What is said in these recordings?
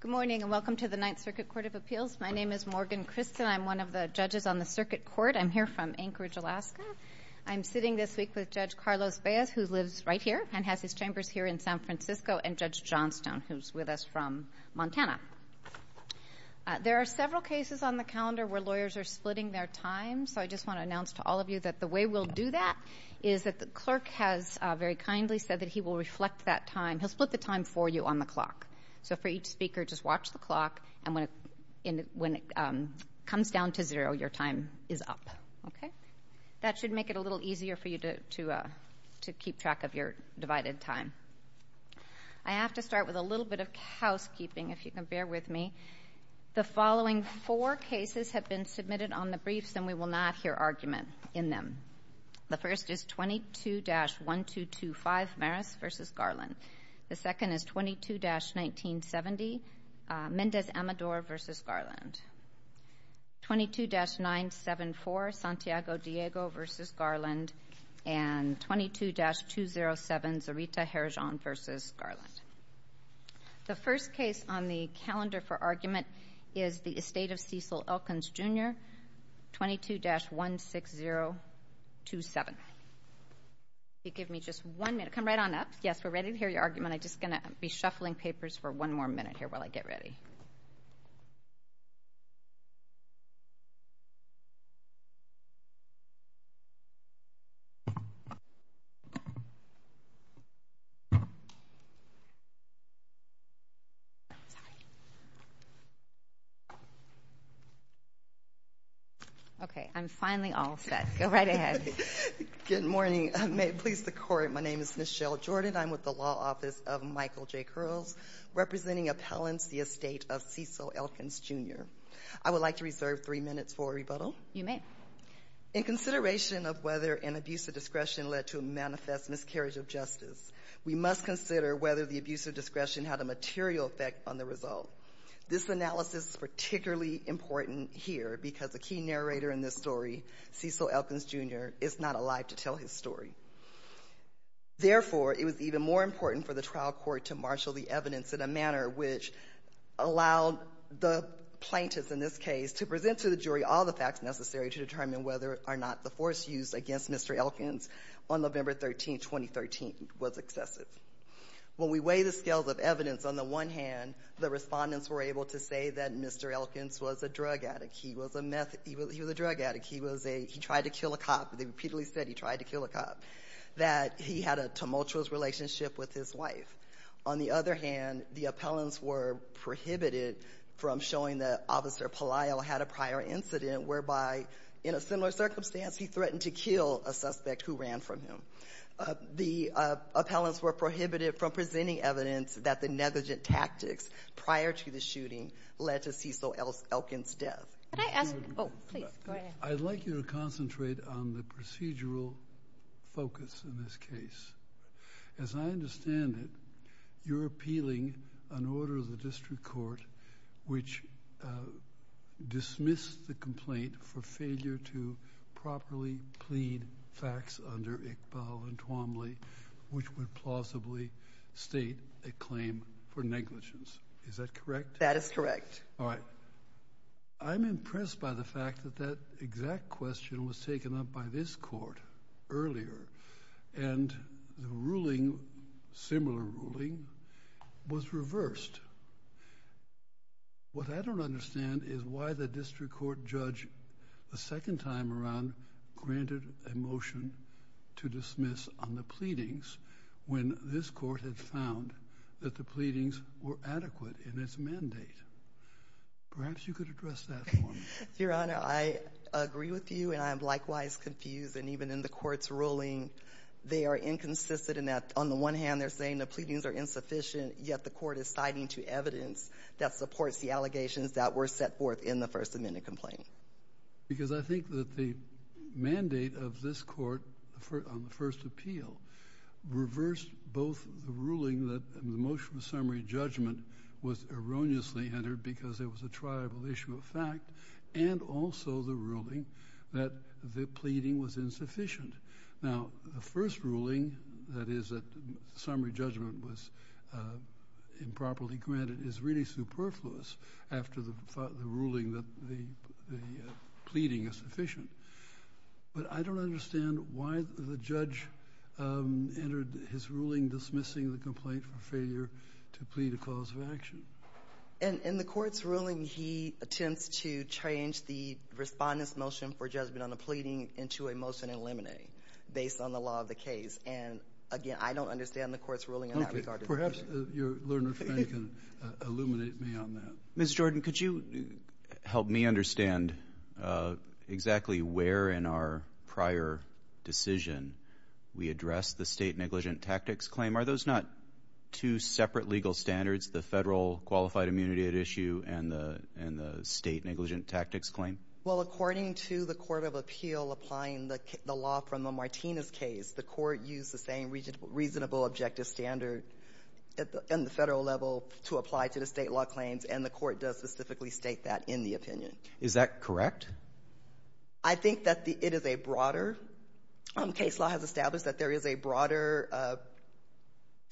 Good morning, and welcome to the Ninth Circuit Court of Appeals. My name is Morgan Christen. I'm one of the judges on the circuit court. I'm here from Anchorage, Alaska. I'm sitting this week with Judge Carlos Baez, who lives right here and has his chambers here in San Francisco, and Judge Johnstone, who's with us from Montana. There are several cases on the calendar where lawyers are splitting their time, so I just want to announce to all of you that the way we'll do that is that the clerk has very kindly said that he will reflect that time. He'll split the time for you on the clock. So for each speaker, just watch the clock, and when it comes down to zero, your time is up. Okay? That should make it a little easier for you to keep track of your divided time. I have to start with a little bit of housekeeping, if you can bear with me. The following four cases have been submitted on the briefs, and we will not hear argument in them. The first is 22-1225, Maris v. Garland. The second is 22-1970, Mendez Amador v. Garland, 22-974, Santiago Diego v. Garland, and 22-207, Miserita Herijon v. Garland. The first case on the calendar for argument is the estate of Cecil Elkins, Jr., 22-16027. Give me just one minute. Come right on up. Yes, we're ready to hear your argument. I'm just going to be shuffling papers for one more minute here while I get ready. Okay, I'm finally all set. Go right ahead. Good morning. May it please the Court, my name is Michelle Jordan. I'm with the Law Office of Michael J. Curls, representing appellants, the estate of Cecil Elkins, Jr. I would like to reserve three minutes for rebuttal. You may. In consideration of whether an abuse of discretion led to a manifest miscarriage of justice, we must consider whether the abuse of discretion had a material effect on the result. This analysis is particularly important here because the key narrator in this story, Cecil Elkins, Jr., is not alive to tell his story. Therefore, it was even more important for the trial court to marshal the evidence in a manner which allowed the plaintiffs in this case to present to the jury all the facts necessary to determine whether or not the force used against Mr. Elkins on November 13, 2013, was excessive. When we weigh the scales of evidence, on the one hand, the respondents were able to say that Mr. Elkins was a drug addict, he was a meth, he was a drug addict, he was a, he tried to kill a cop, they repeatedly said he tried to kill a cop, that he had a tumultuous relationship with his wife. On the other hand, the appellants were prohibited from showing that Officer Pelisle had a prior incident whereby, in a similar circumstance, he threatened to kill a suspect who ran from him. The appellants were prohibited from presenting evidence that the negligent tactics prior to the shooting led to Cecil Elkins' death. Could I ask, oh, please, go ahead. I'd like you to concentrate on the procedural focus in this case. As I understand it, you're appealing an order of the district court which dismissed the complaint for failure to properly plead facts under Iqbal and Twombly, which would plausibly state a claim for negligence. Is that correct? That is correct. All right. I'm impressed by the fact that that exact question was taken up by this court earlier and the ruling, similar ruling, was reversed. What I don't understand is why the district court judge, the second time around, granted a motion to dismiss on the pleadings when this court had found that the pleadings were adequate in its mandate. Perhaps you could address that for me. Your Honor, I agree with you, and I am likewise confused. And even in the court's ruling, they are inconsistent in that, on the one hand, they're saying the pleadings are insufficient, yet the court is citing to evidence that supports the allegations that were set forth in the First Amendment complaint. Because I think that the mandate of this court on the first appeal reversed both the ruling that the motion of summary judgment was erroneously entered because it was a triable issue of fact, and also the ruling that the pleading was insufficient. Now, the first ruling, that is, that summary judgment was improperly granted, is really superfluous after the ruling that the pleading is sufficient. But I don't understand why the judge entered his ruling dismissing the complaint for failure to plead a cause of action. In the court's ruling, he attempts to change the respondent's motion for judgment on the pleading into a motion in limine, based on the law of the case. And again, I don't understand the court's ruling in that regard. Perhaps your learned friend can illuminate me on that. Ms. Jordan, could you help me understand exactly where in our prior decision we addressed the state negligent tactics claim? Are those not two separate legal standards, the federal qualified immunity at issue and the state negligent tactics claim? Well, according to the court of appeal applying the law from the Martinez case, the court used the same reasonable objective standard in the federal level to apply to the state case law claims, and the court does specifically state that in the opinion. Is that correct? I think that it is a broader case law has established that there is a broader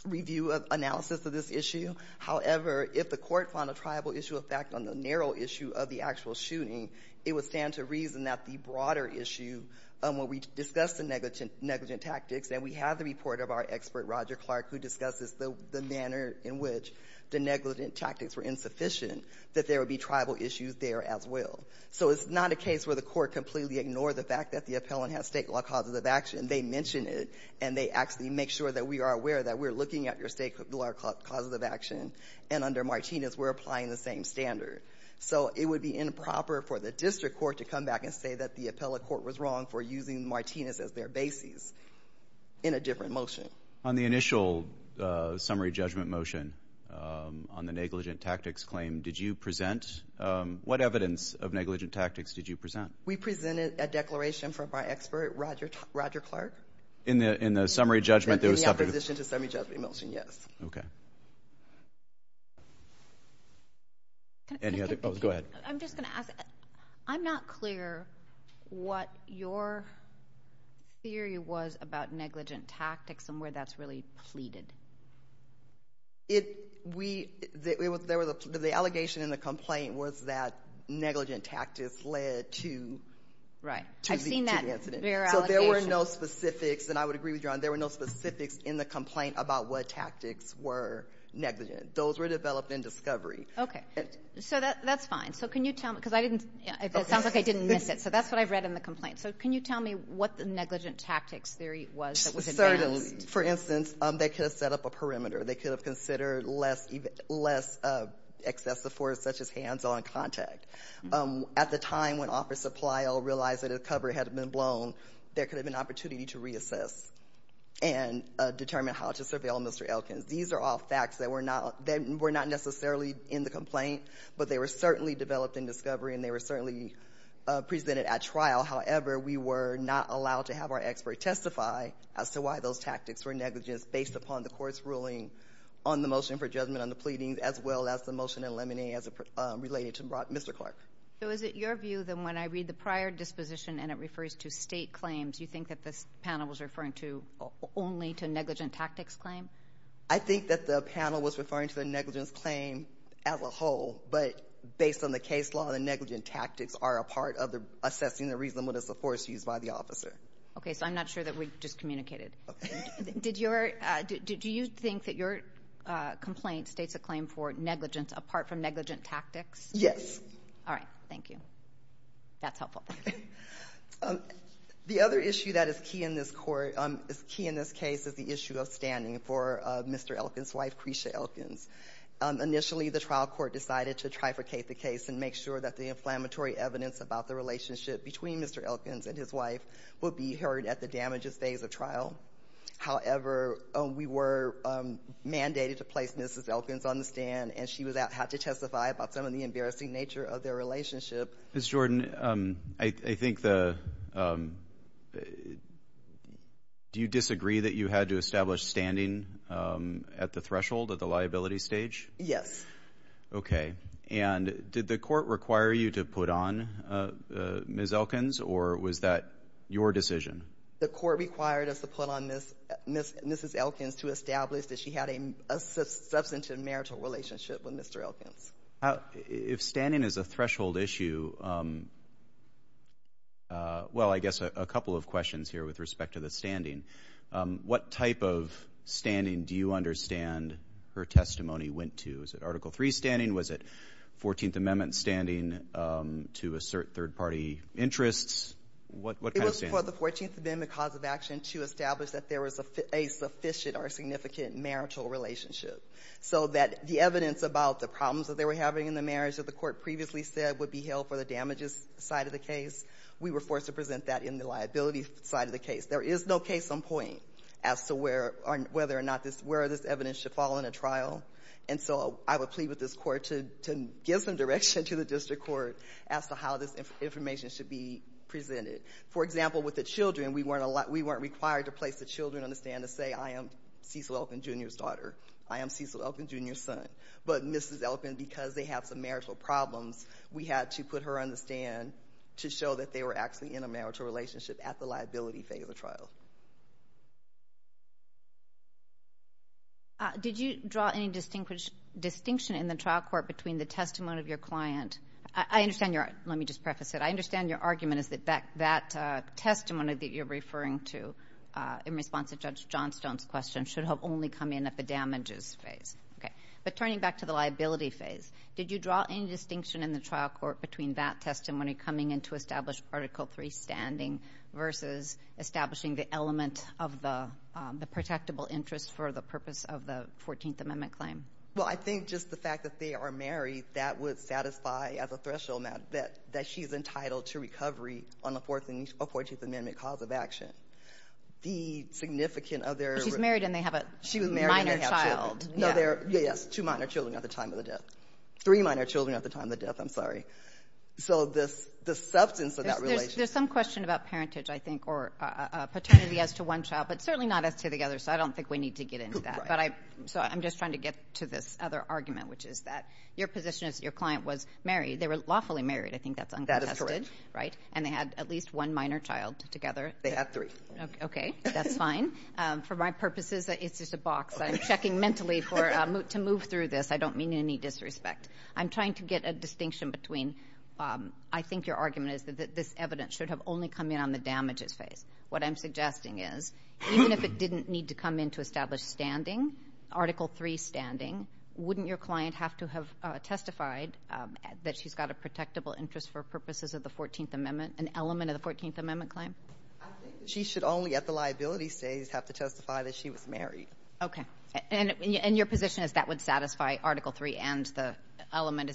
review of analysis of this issue. However, if the court found a triable issue effect on the narrow issue of the actual shooting, it would stand to reason that the broader issue, when we discuss the negligent tactics, and we have the report of our expert, Roger Clark, who discusses the manner in which the negligent tactics were insufficient, that there would be tribal issues there as well. So it's not a case where the court completely ignored the fact that the appellant has state law causes of action. They mention it, and they actually make sure that we are aware that we're looking at your state law causes of action, and under Martinez, we're applying the same standard. So it would be improper for the district court to come back and say that the appellate court was wrong for using Martinez as their basis in a different motion. On the initial summary judgment motion on the negligent tactics claim, what evidence of negligent tactics did you present? We presented a declaration from our expert, Roger Clark. In the summary judgment? In the opposition to the summary judgment motion, yes. Okay. Go ahead. I'm just going to ask. I'm not clear what your theory was about negligent tactics and where that's really pleaded. The allegation in the complaint was that negligent tactics led to the incident. Right. I've seen that. So there were no specifics, and I would agree with you on that, there were no specifics in the complaint about what tactics were negligent. Those were developed in discovery. Okay. So that's fine. So can you tell me, because I didn't, it sounds like I didn't miss it, so that's what I've read in the complaint. So can you tell me what the negligent tactics theory was that was advanced? For instance, they could have set up a perimeter. They could have considered less excessive force such as hands-on contact. At the time when Officer Palliel realized that a cover had been blown, there could have been an opportunity to reassess and determine how to surveil Mr. Elkins. These are all facts that were not necessarily in the complaint, but they were certainly developed in discovery, and they were certainly presented at trial. However, we were not allowed to have our expert testify as to why those tactics were negligent based upon the court's ruling on the motion for judgment on the pleadings as well as the motion in Lemonade as it related to Mr. Clark. So is it your view that when I read the prior disposition and it refers to state claims, you think that this panel was referring to only to negligent tactics claim? I think that the panel was referring to the negligence claim as a whole, but based on the case law, the negligent tactics are a part of assessing the reasonableness of force used by the officer. Okay. So I'm not sure that we just communicated. Did you think that your complaint states a claim for negligence apart from negligent tactics? Yes. All right. Thank you. That's helpful. The other issue that is key in this case is the issue of standing for Mr. Elkins' wife, Crecia Elkins. Initially, the trial court decided to trifurcate the case and make sure that the inflammatory evidence about the relationship between Mr. Elkins and his wife would be heard at the damages phase of trial. However, we were mandated to place Mrs. Elkins on the stand, and she had to testify about some of the embarrassing nature of their relationship. Ms. Jordan, I think the—do you disagree that you had to establish standing at the threshold, at the liability stage? Yes. Okay. And did the court require you to put on Ms. Elkins, or was that your decision? The court required us to put on Mrs. Elkins to establish that she had a substantive marital relationship with Mr. Elkins. If standing is a threshold issue—well, I guess a couple of questions here with respect to the standing. What type of standing do you understand her testimony went to? Was it Article III standing? Was it 14th Amendment standing to assert third-party interests? What kind of standing? It was for the 14th Amendment cause of action to establish that there was a sufficient or the court previously said would be held for the damages side of the case. We were forced to present that in the liability side of the case. There is no case on point as to whether or not this—where this evidence should fall in a trial, and so I would plead with this court to give some direction to the district court as to how this information should be presented. For example, with the children, we weren't required to place the children on the stand to say, I am Cecil Elkins, Jr.'s daughter, I am Cecil Elkins, Jr.'s son. But Mrs. Elkins, because they have some marital problems, we had to put her on the stand to show that they were actually in a marital relationship at the liability phase of the trial. Did you draw any distinction in the trial court between the testimony of your client—I understand your—let me just preface it—I understand your argument is that that testimony that you're referring to in response to Judge Johnstone's question should have only come in at the damages phase. Okay. But turning back to the liability phase, did you draw any distinction in the trial court between that testimony coming in to establish Article III standing versus establishing the element of the protectable interest for the purpose of the 14th Amendment claim? Well, I think just the fact that they are married, that would satisfy as a threshold that she is entitled to recovery on the 14th Amendment cause of action. The significant other— She's married and they have a minor child. No, they're—yes, two minor children at the time of the death. Three minor children at the time of the death, I'm sorry. So the substance of that relationship— There's some question about parentage, I think, or paternity as to one child, but certainly not as to the other. So I don't think we need to get into that. Right. But I—so I'm just trying to get to this other argument, which is that your position is that your client was married. They were lawfully married. I think that's uncontested. That is correct. Right? And they had at least one minor child together. They had three. Okay. That's fine. For my purposes, it's just a box. I'm checking mentally for—to move through this. I don't mean any disrespect. I'm trying to get a distinction between—I think your argument is that this evidence should have only come in on the damages phase. What I'm suggesting is, even if it didn't need to come in to establish standing, Article 3 standing, wouldn't your client have to have testified that she's got a protectable interest for purposes of the 14th Amendment, an element of the 14th Amendment claim? I think that she should only, at the liability phase, have to testify that she was married. Okay. And your position is that would satisfy Article 3 and the element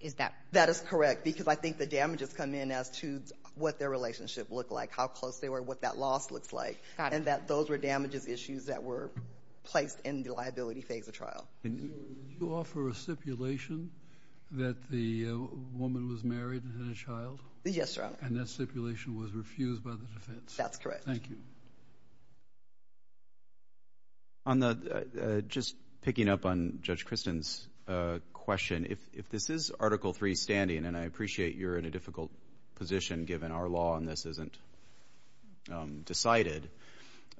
is that— That is correct, because I think the damages come in as to what their relationship looked like, how close they were, what that loss looks like. Got it. And that those were damages issues that were placed in the liability phase of trial. And you offer a stipulation that the woman was married and had a child? Yes, Your Honor. And that stipulation was refused by the defense? That's correct. Thank you. On the—just picking up on Judge Christin's question, if this is Article 3 standing, and I appreciate you're in a difficult position given our law on this isn't decided,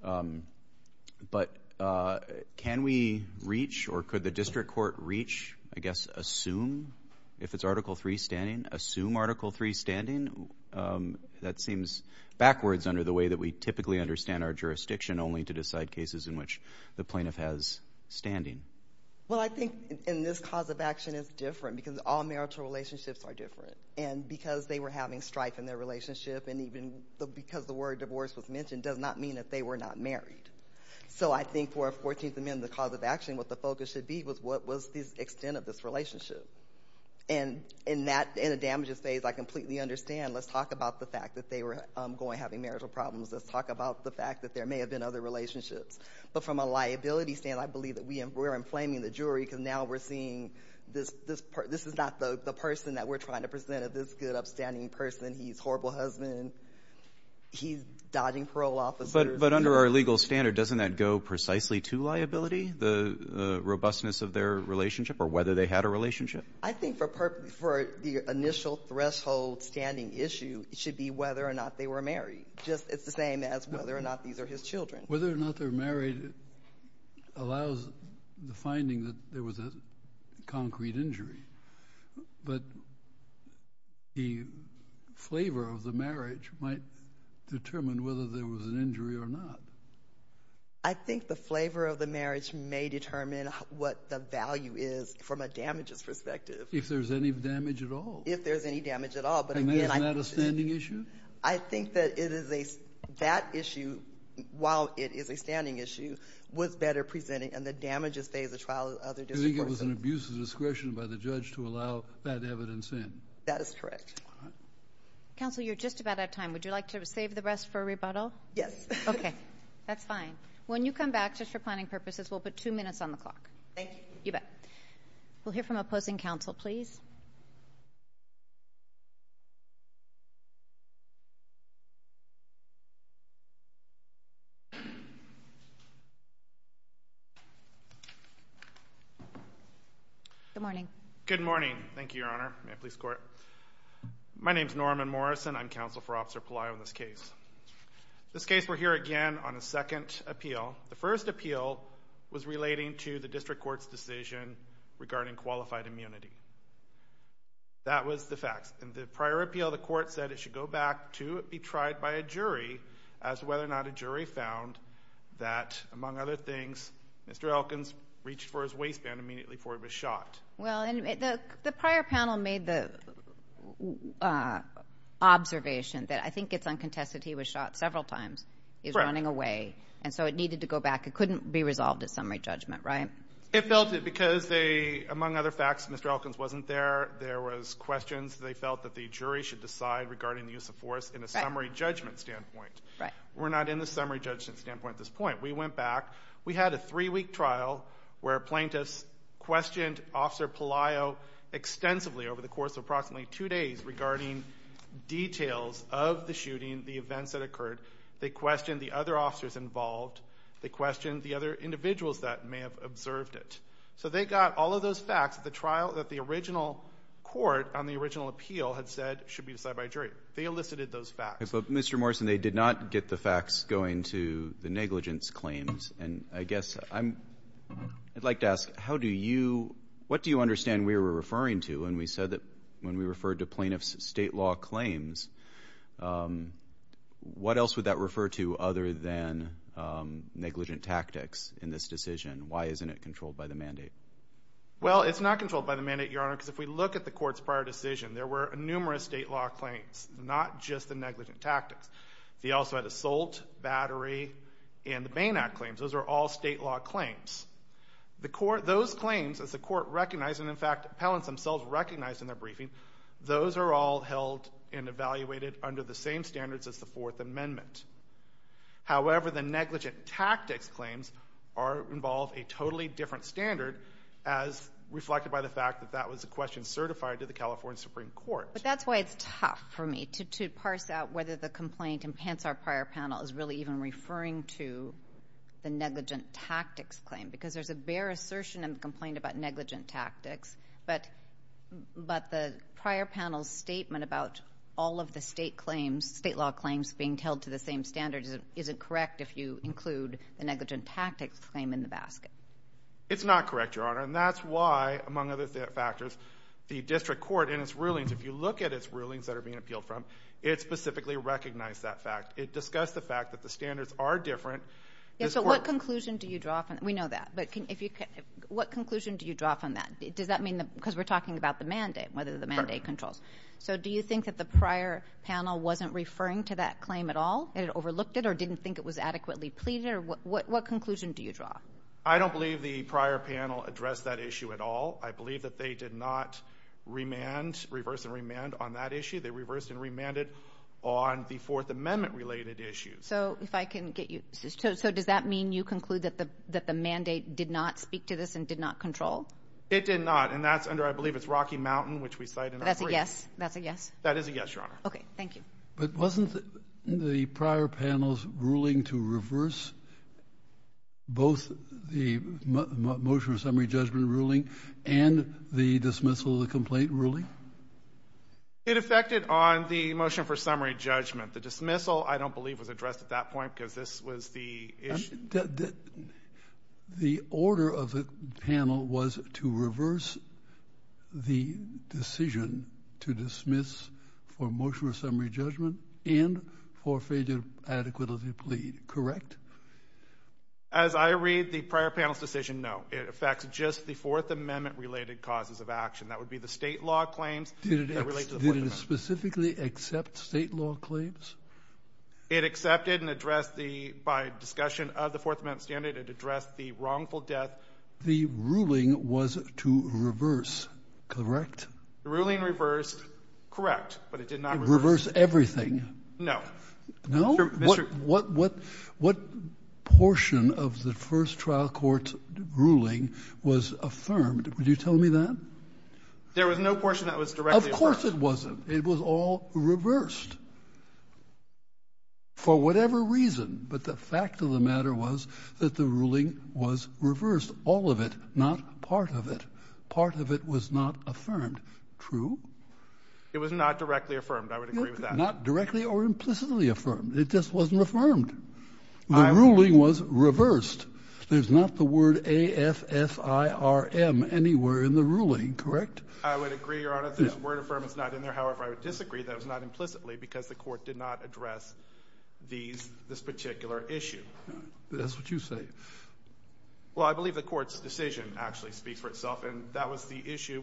but can we reach or could the district court reach, I guess, assume if it's Article 3 standing? Assume Article 3 standing? That seems backwards under the way that we typically understand our jurisdiction only to decide cases in which the plaintiff has standing. Well, I think in this cause of action is different because all marital relationships are different. And because they were having strife in their relationship and even because the word divorce was mentioned does not mean that they were not married. So I think for a 14th Amendment cause of action, what the focus should be was what was the extent of this relationship. And in that—in a damages phase, I completely understand. Let's talk about the fact that they were going—having marital problems. Let's talk about the fact that there may have been other relationships. But from a liability stand, I believe that we are inflaming the jury because now we're seeing this is not the person that we're trying to present as this good upstanding person. He's a horrible husband. He's dodging parole officers. But under our legal standard, doesn't that go precisely to liability, the robustness of their relationship or whether they had a relationship? I think for the initial threshold standing issue, it should be whether or not they were married. Just—it's the same as whether or not these are his children. Whether or not they're married allows the finding that there was a concrete injury. But the flavor of the marriage might determine whether there was an injury or not. I think the flavor of the marriage may determine what the value is from a damages perspective. If there's any damage at all? If there's any damage at all. But again, I— And that is not a standing issue? I think that it is a—that issue, while it is a standing issue, was better presented in the damages phase of the trial of the other different person. You think it was an abuse of discretion by the judge to allow that evidence in? That is correct. All right. Counsel, you're just about out of time. Would you like to save the rest for rebuttal? Yes. Okay. That's fine. When you come back, just for planning purposes, we'll put two minutes on the clock. Thank you. You bet. We'll hear from opposing counsel, please. Good morning. Good morning. Thank you, Your Honor. May I please score it? My name is Norman Morrison. I'm counsel for Officer Pelayo in this case. In this case, we're here again on a second appeal. The first appeal was relating to the district court's decision regarding qualified immunity. That was the facts. In the prior appeal, the court said it should go back to be tried by a jury as to whether or not a jury found that, among other things, Mr. Elkins reached for his waistband immediately before he was shot. Well, and the prior panel made the observation that, I think it's uncontested, he was shot several times. He was running away. And so it needed to go back. It couldn't be resolved at summary judgment, right? It felt it because they, among other facts, Mr. Elkins wasn't there. There was questions. They felt that the jury should decide regarding the use of force in a summary judgment standpoint. We're not in the summary judgment standpoint at this point. We went back. We had a three-week trial where plaintiffs questioned Officer Pelayo extensively over the course of approximately two days regarding details of the shooting, the events that occurred. They questioned the other officers involved. They questioned the other individuals that may have observed it. So they got all of those facts at the trial that the original court on the original appeal had said should be decided by a jury. They elicited those facts. But Mr. Morrison, they did not get the facts going to the negligence claims. And I guess I'd like to ask, how do you, what do you understand we were referring to when we said that, when we referred to plaintiff's state law claims, what else would that refer to other than negligent tactics in this decision? Why isn't it controlled by the mandate? Well, it's not controlled by the mandate, Your Honor, because if we look at the court's prior decision, there were numerous state law claims, not just the negligent tactics. They also had assault, battery, and the Bain Act claims. Those are all state law claims. The court, those claims, as the court recognized, and in fact, appellants themselves recognized in their briefing, those are all held and evaluated under the same standards as the Fourth Amendment. However, the negligent tactics claims are, involve a totally different standard as reflected by the fact that that was a question certified to the California Supreme Court. But that's why it's tough for me to parse out whether the complaint, and hence our prior panel, is really even referring to the negligent tactics claim. Because there's a bare assertion in the complaint about negligent tactics, but the prior panel's statement about all of the state claims, state law claims, being held to the same standards isn't correct if you include the negligent tactics claim in the basket. It's not correct, Your Honor. And that's why, among other factors, the district court, in its rulings, if you look at its rulings that are being appealed from, it specifically recognized that fact. It discussed the fact that the standards are different. Yes, so what conclusion do you draw from, we know that, but what conclusion do you draw from that? Does that mean, because we're talking about the mandate, whether the mandate controls. So do you think that the prior panel wasn't referring to that claim at all? It overlooked it or didn't think it was adequately pleaded? What conclusion do you draw? I don't believe the prior panel addressed that issue at all. I believe that they did not remand, reverse and remand on that issue. They reversed and remanded on the Fourth Amendment related issues. So if I can get you, so does that mean you conclude that the mandate did not speak to this and did not control? It did not. And that's under, I believe it's Rocky Mountain, which we cite in our brief. That's a yes? That's a yes? That is a yes, Your Honor. Okay, thank you. But wasn't the prior panel's ruling to reverse both the motion of summary judgment ruling and the dismissal of the complaint ruling? It affected on the motion for summary judgment. The dismissal, I don't believe, was addressed at that point because this was the issue. The order of the panel was to reverse the decision to dismiss for motion of summary judgment and for failure to adequately plead, correct? As I read the prior panel's decision, no. It affects just the Fourth Amendment related causes of action. That would be the state law claims that relate to the Fourth Amendment. Did it specifically accept state law claims? It accepted and addressed the, by discussion of the Fourth Amendment standard, it addressed the wrongful death. The ruling was to reverse, correct? The ruling reversed, correct, but it did not reverse. It reversed everything? No. No? Mr. What portion of the first trial court's ruling was affirmed? Would you tell me that? There was no portion that was directly affirmed. Of course it wasn't. It was all reversed for whatever reason, but the fact of the matter was that the ruling was reversed, all of it, not part of it. Part of it was not affirmed, true? It was not directly affirmed. I would agree with that. Not directly or implicitly affirmed. It just wasn't affirmed. The ruling was reversed. There's not the word A-F-F-I-R-M anywhere in the ruling, correct? I would agree, Your Honor. I would agree with that. The word affirm is not in there. However, I would disagree that it was not implicitly because the court did not address this particular issue. That's what you say. Well, I believe the court's decision actually speaks for itself, and that was the issue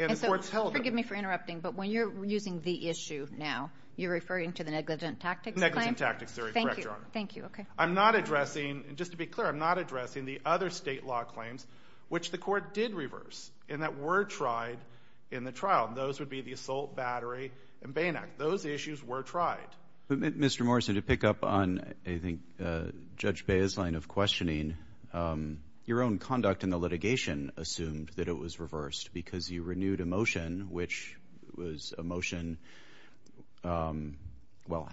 and the court told them. Forgive me for interrupting, but when you're using the issue now, you're referring to the negligent tactics claim? Negligent tactics. Correct, Your Honor. Thank you. Okay. I'm not addressing, and just to be clear, I'm not addressing the other state law claims which the court did reverse and that were tried in the trial. Those would be the assault, battery, and Bain Act. Those issues were tried. Mr. Morrison, to pick up on, I think, Judge Baez's line of questioning, your own conduct in the litigation assumed that it was reversed because you renewed a motion which was a motion, well,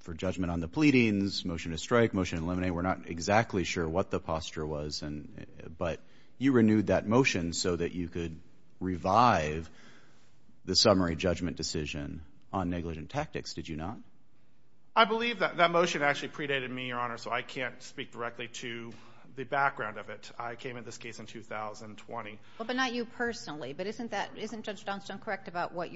for judgment on the pleadings, motion to strike, motion to eliminate. We're not exactly sure what the posture was, but you renewed that motion so that you could revive the summary judgment decision on negligent tactics, did you not? I believe that motion actually predated me, Your Honor, so I can't speak directly to the background of it. I came at this case in 2020. But not you personally, but isn't Judge Dunston correct about what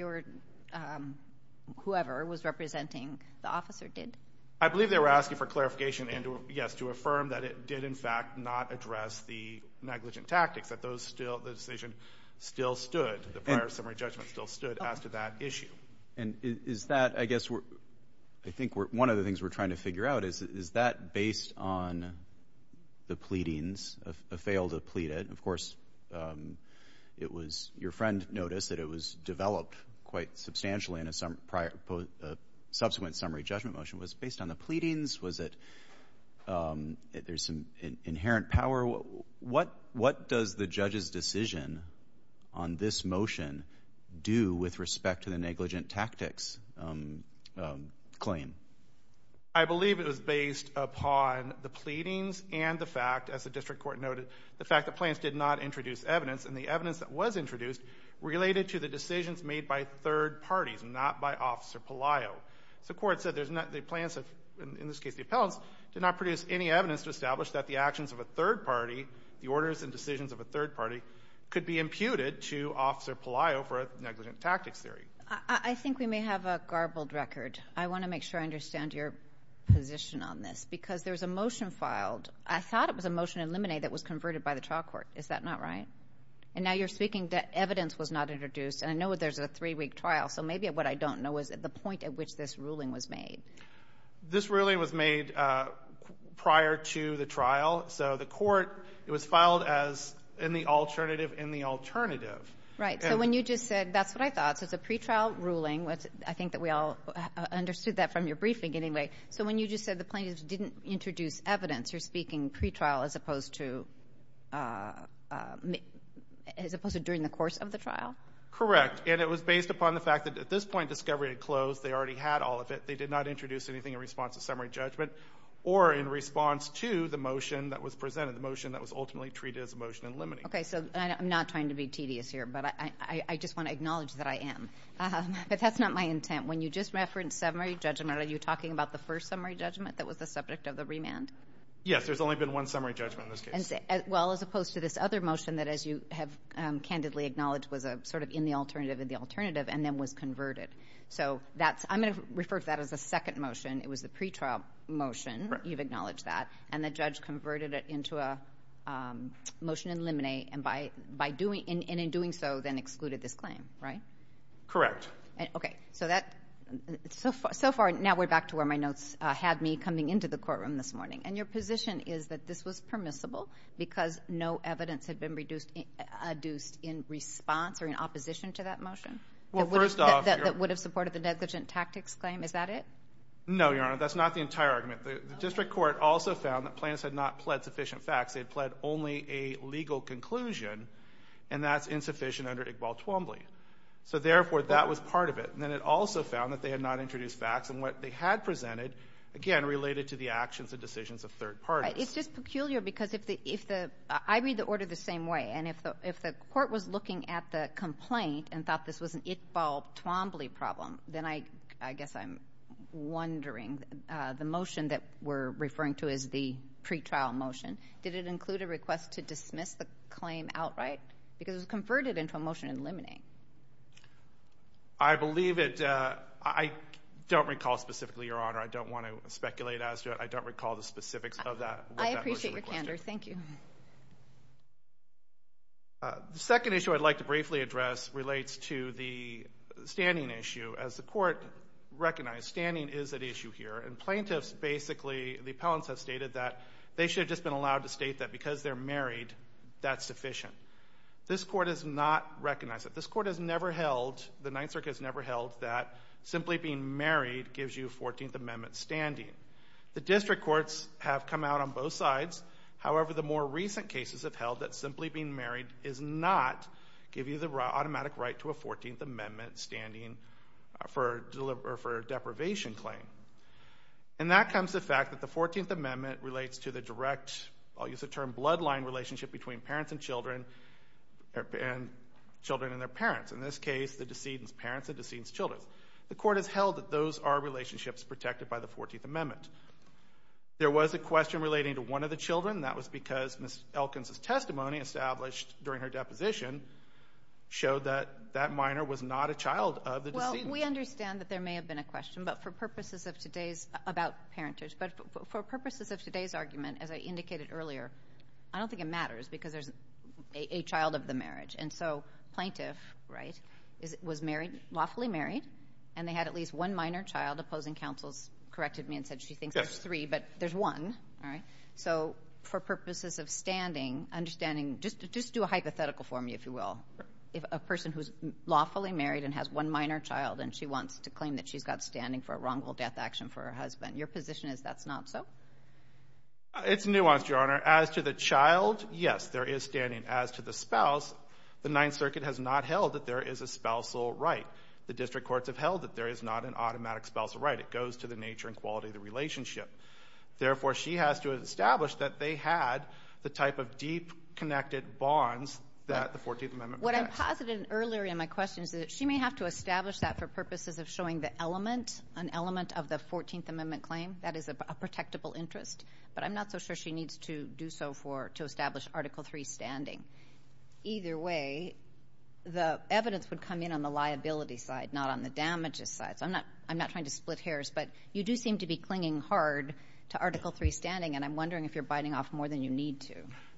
whoever was representing the officer did? I believe they were asking for clarification and, yes, to affirm that it did, in fact, not address the negligent tactics, that the decision still stood, the prior summary judgment still stood as to that issue. And is that, I guess, I think one of the things we're trying to figure out is, is that based on the pleadings, a failed plea, of course, it was, your friend noticed that it was developed quite substantially in a subsequent summary judgment motion. Was it based on the pleadings? Was it, there's some inherent power? What does the judge's decision on this motion do with respect to the negligent tactics claim? I believe it was based upon the pleadings and the fact, as the district court noted, the fact that plaintiffs did not introduce evidence, and the evidence that was introduced related to the decisions made by third parties, not by Officer Palaio. The court said there's not, the plaintiffs, in this case the appellants, did not produce any evidence to establish that the actions of a third party, the orders and decisions of a third party, could be imputed to Officer Palaio for a negligent tactics theory. I think we may have a garbled record. I want to make sure I understand your position on this because there's a motion filed. I thought it was a motion in Lemonade that was converted by the trial court. Is that not right? And now you're speaking that evidence was not introduced, and I know there's a three-week trial, so maybe what I don't know is the point at which this ruling was made. This ruling was made prior to the trial, so the court, it was filed as in the alternative in the alternative. Right. So when you just said, that's what I thought, so it's a pretrial ruling, I think that we all understood that from your briefing anyway, so when you just said the plaintiffs didn't introduce evidence, you're speaking pretrial as opposed to, as opposed to during the course of the trial? Correct. And it was based upon the fact that at this point discovery had closed, they already had all of it, they did not introduce anything in response to summary judgment, or in response to the motion that was presented, the motion that was ultimately treated as a motion in Lemonade. Okay, so I'm not trying to be tedious here, but I just want to acknowledge that I am. But that's not my intent. When you just referenced summary judgment, are you talking about the first summary judgment that was the subject of the remand? Yes, there's only been one summary judgment in this case. Well, as opposed to this other motion that, as you have candidly acknowledged, was a sort of in the alternative in the alternative, and then was converted. So that's, I'm going to refer to that as a second motion, it was the pretrial motion, you've acknowledged that, and the judge converted it into a motion in Lemonade, and by doing, and in doing so then excluded this claim, right? Correct. Okay, so that, so far, now we're back to where my notes had me coming into the courtroom this morning. And your position is that this was permissible because no evidence had been reduced in response or in opposition to that motion? Well, first off. That would have supported the negligent tactics claim, is that it? No, Your Honor, that's not the entire argument. The district court also found that Plants had not pled sufficient facts, they had pled only a legal conclusion, and that's insufficient under Iqbal Twombly. So therefore, that was part of it, and then it also found that they had not introduced facts and what they had presented, again, related to the actions and decisions of third parties. It's just peculiar because if the, if the, I read the order the same way, and if the court was looking at the complaint and thought this was an Iqbal Twombly problem, then I, I guess I'm wondering, the motion that we're referring to as the pretrial motion, did it include a request to dismiss the claim outright, because it was converted into a motion in that case? I believe it, I don't recall specifically, Your Honor, I don't want to speculate as to it. I don't recall the specifics of that. I appreciate your candor. Thank you. The second issue I'd like to briefly address relates to the standing issue. As the court recognized, standing is at issue here, and plaintiffs basically, the appellants have stated that they should have just been allowed to state that because they're married, that's sufficient. This court has not recognized it. This court has never held, the Ninth Circuit has never held that simply being married gives you a 14th Amendment standing. The district courts have come out on both sides, however, the more recent cases have held that simply being married does not give you the automatic right to a 14th Amendment standing for deprivation claim. And that comes to the fact that the 14th Amendment relates to the direct, I'll use the term bloodline relationship between parents and children, and children and their parents, in this case, the decedent's parents and the decedent's children. The court has held that those are relationships protected by the 14th Amendment. There was a question relating to one of the children, that was because Ms. Elkins' testimony established during her deposition showed that that minor was not a child of the decedent. We understand that there may have been a question, but for purposes of today's, about parentage, but for purposes of today's argument, as I indicated earlier, I don't think it matters because there's a child of the marriage. And so plaintiff, right, was married, lawfully married, and they had at least one minor child. Opposing counsels corrected me and said she thinks there's three, but there's one, right? So for purposes of standing, understanding, just do a hypothetical for me, if you will. If a person who's lawfully married and has one minor child and she wants to claim that she's got standing for a wrongful death action for her husband, your position is that's not so? It's nuanced, Your Honor. As to the child, yes, there is standing. As to the spouse, the Ninth Circuit has not held that there is a spousal right. The district courts have held that there is not an automatic spousal right. It goes to the nature and quality of the relationship. Therefore, she has to establish that they had the type of deep-connected bonds that the 14th Amendment protects. What I posited earlier in my question is that she may have to establish that for purposes of showing the element, an element of the 14th Amendment claim that is a protectable interest, but I'm not so sure she needs to do so to establish Article III standing. Either way, the evidence would come in on the liability side, not on the damages side. I'm not trying to split hairs, but you do seem to be clinging hard to Article III standing, and I'm wondering if you're biting off more than you need to.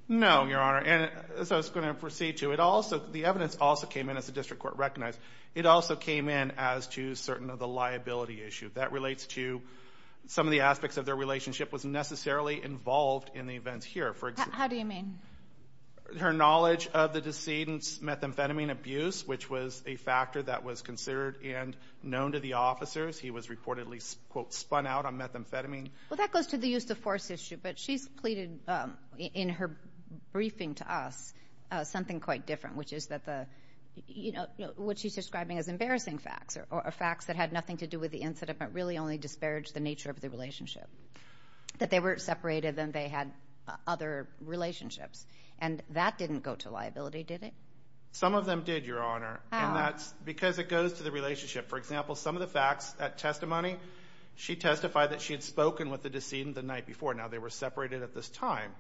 No, Your Honor. As I was going to proceed to, the evidence also came in, as the district court recognized, it also came in as to certain of the liability issue. That relates to some of the aspects of their relationship was necessarily involved in the events here. How do you mean? Her knowledge of the decedent's methamphetamine abuse, which was a factor that was considered and known to the officers. He was reportedly, quote, spun out on methamphetamine. Well, that goes to the use of force issue, but she's pleaded in her briefing to us something quite different, which is what she's describing as embarrassing facts, or facts that had nothing to do with the incident, but really only disparaged the nature of the relationship. That they were separated and they had other relationships. And that didn't go to liability, did it? Some of them did, Your Honor, and that's because it goes to the relationship. For example, some of the facts at testimony, she testified that she had spoken with the decedent the night before. Now they were separated at this time.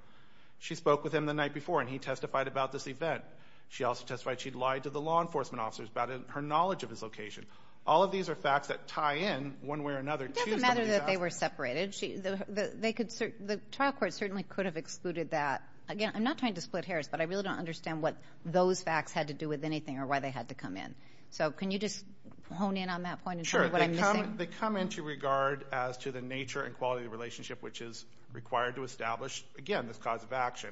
She spoke with him the night before, and he testified about this event. She also testified she'd lied to the law enforcement officers about her knowledge of his location. All of these are facts that tie in one way or another. It doesn't matter that they were separated. The trial court certainly could have excluded that. Again, I'm not trying to split hairs, but I really don't understand what those facts had to do with anything or why they had to come in. So, can you just hone in on that point and tell me what I'm missing? Sure. They come into regard as to the nature and quality of the relationship, which is required to establish, again, this cause of action.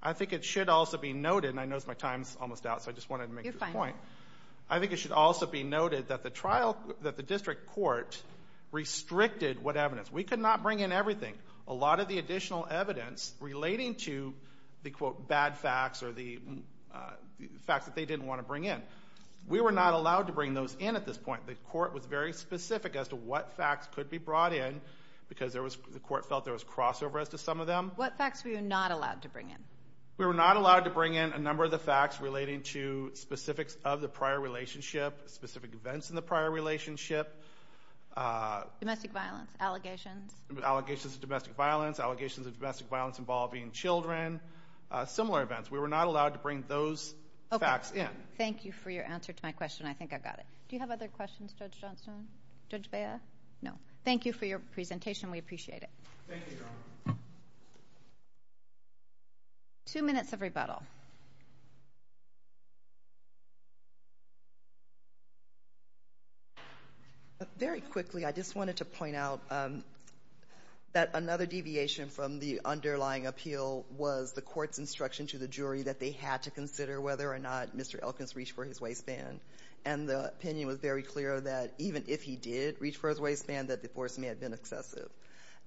I think it should also be noted, and I know my time's almost out, so I just wanted to make this point. You're fine. I think it should also be noted that the district court restricted what evidence. We could not bring in everything. A lot of the additional evidence relating to the, quote, bad facts or the facts that they didn't want to bring in. We were not allowed to bring those in at this point. The court was very specific as to what facts could be brought in because the court felt there was crossover as to some of them. What facts were you not allowed to bring in? We were not allowed to bring in a number of the facts relating to specifics of the prior relationship, specific events in the prior relationship. Domestic violence, allegations? Allegations of domestic violence, allegations of domestic violence involving children, similar events. We were not allowed to bring those facts in. Thank you for your answer to my question. I think I got it. Judge Bea? No. Thank you for your presentation. We appreciate it. Thank you, Your Honor. Two minutes of rebuttal. Very quickly, I just wanted to point out that another deviation from the underlying appeal was the court's instruction to the jury that they had to consider whether or not Mr. Elkins reached for his waistband. And the opinion was very clear that even if he did reach for his waistband, that divorce may have been excessive.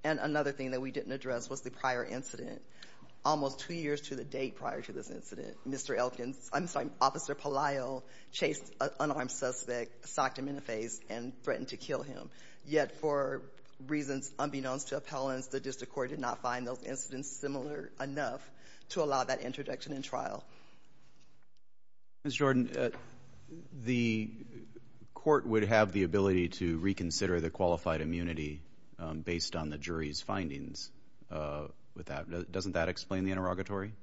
And another thing that we didn't address was the prior incident. Almost two years to the date prior to this incident, Mr. Elkins, I'm sorry, Officer Palaio chased an unarmed suspect, socked him in the face, and threatened to kill him. Yet for reasons unbeknownst to appellants, the district court did not find those incidents similar enough to allow that introduction in trial. Ms. Jordan, the court would have the ability to reconsider the qualified immunity based on the jury's findings. Doesn't that explain the interrogatory?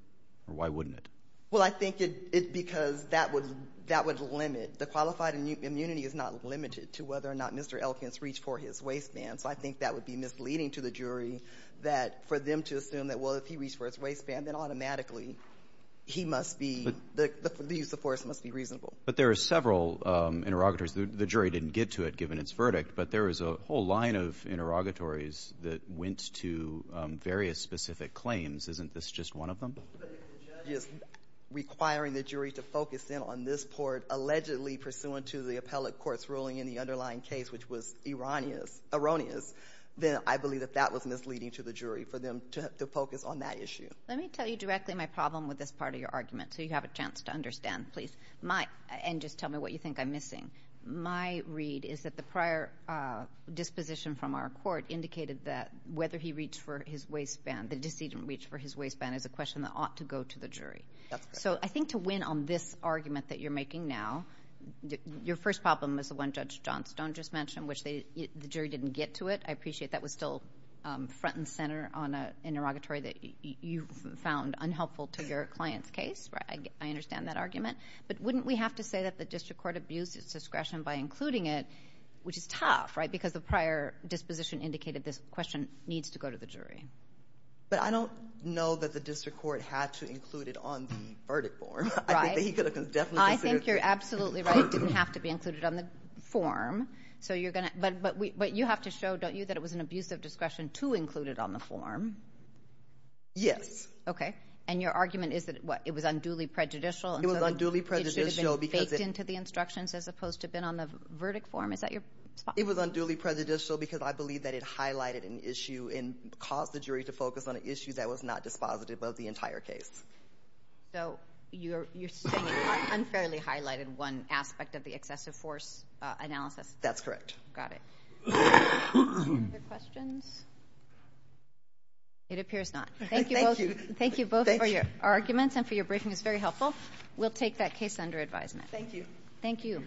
Why wouldn't it? Well, I think it's because that would limit. The qualified immunity is not limited to whether or not Mr. Elkins reached for his waistband. So I think that would be misleading to the jury that for them to assume that, well, if he reached for his waistband, then automatically he must be, the use of force must be reasonable. But there are several interrogatories. The jury didn't get to it given its verdict, but there is a whole line of interrogatories that went to various specific claims. Isn't this just one of them? But if the judge is requiring the jury to focus in on this court allegedly pursuant to the appellate court's ruling in the underlying case, which was erroneous, then I believe that that was misleading to the jury for them to focus on that issue. Let me tell you directly my problem with this part of your argument so you have a chance to understand, please. And just tell me what you think I'm missing. My read is that the prior disposition from our court indicated that whether he reached for his waistband, the decedent reached for his waistband, is a question that ought to go to the jury. That's correct. So I think to win on this argument that you're making now, your first problem is the one Judge Johnstone just mentioned, which the jury didn't get to it. I appreciate that was still front and center on an interrogatory that you found unhelpful to your client's case. I understand that argument. But wouldn't we have to say that the district court abused its discretion by including it, which is tough, right? Because the prior disposition indicated this question needs to go to the jury. But I don't know that the district court had to include it on the verdict form. I think that he could have definitely considered it. It didn't have to be included on the form. But you have to show, don't you, that it was an abuse of discretion to include it on the form. Yes. Okay. And your argument is that it was unduly prejudicial? It was unduly prejudicial because it— It should have been baked into the instructions as opposed to been on the verdict form? Is that your spot? It was unduly prejudicial because I believe that it highlighted an issue and caused the jury to focus on an issue that was not dispositive of the entire case. So you're saying it unfairly highlighted one aspect of the excessive force analysis? That's correct. Got it. Other questions? It appears not. Thank you both. Thank you. Thank you both for your arguments and for your briefing. It was very helpful. We'll take that case under advisement. Thank you.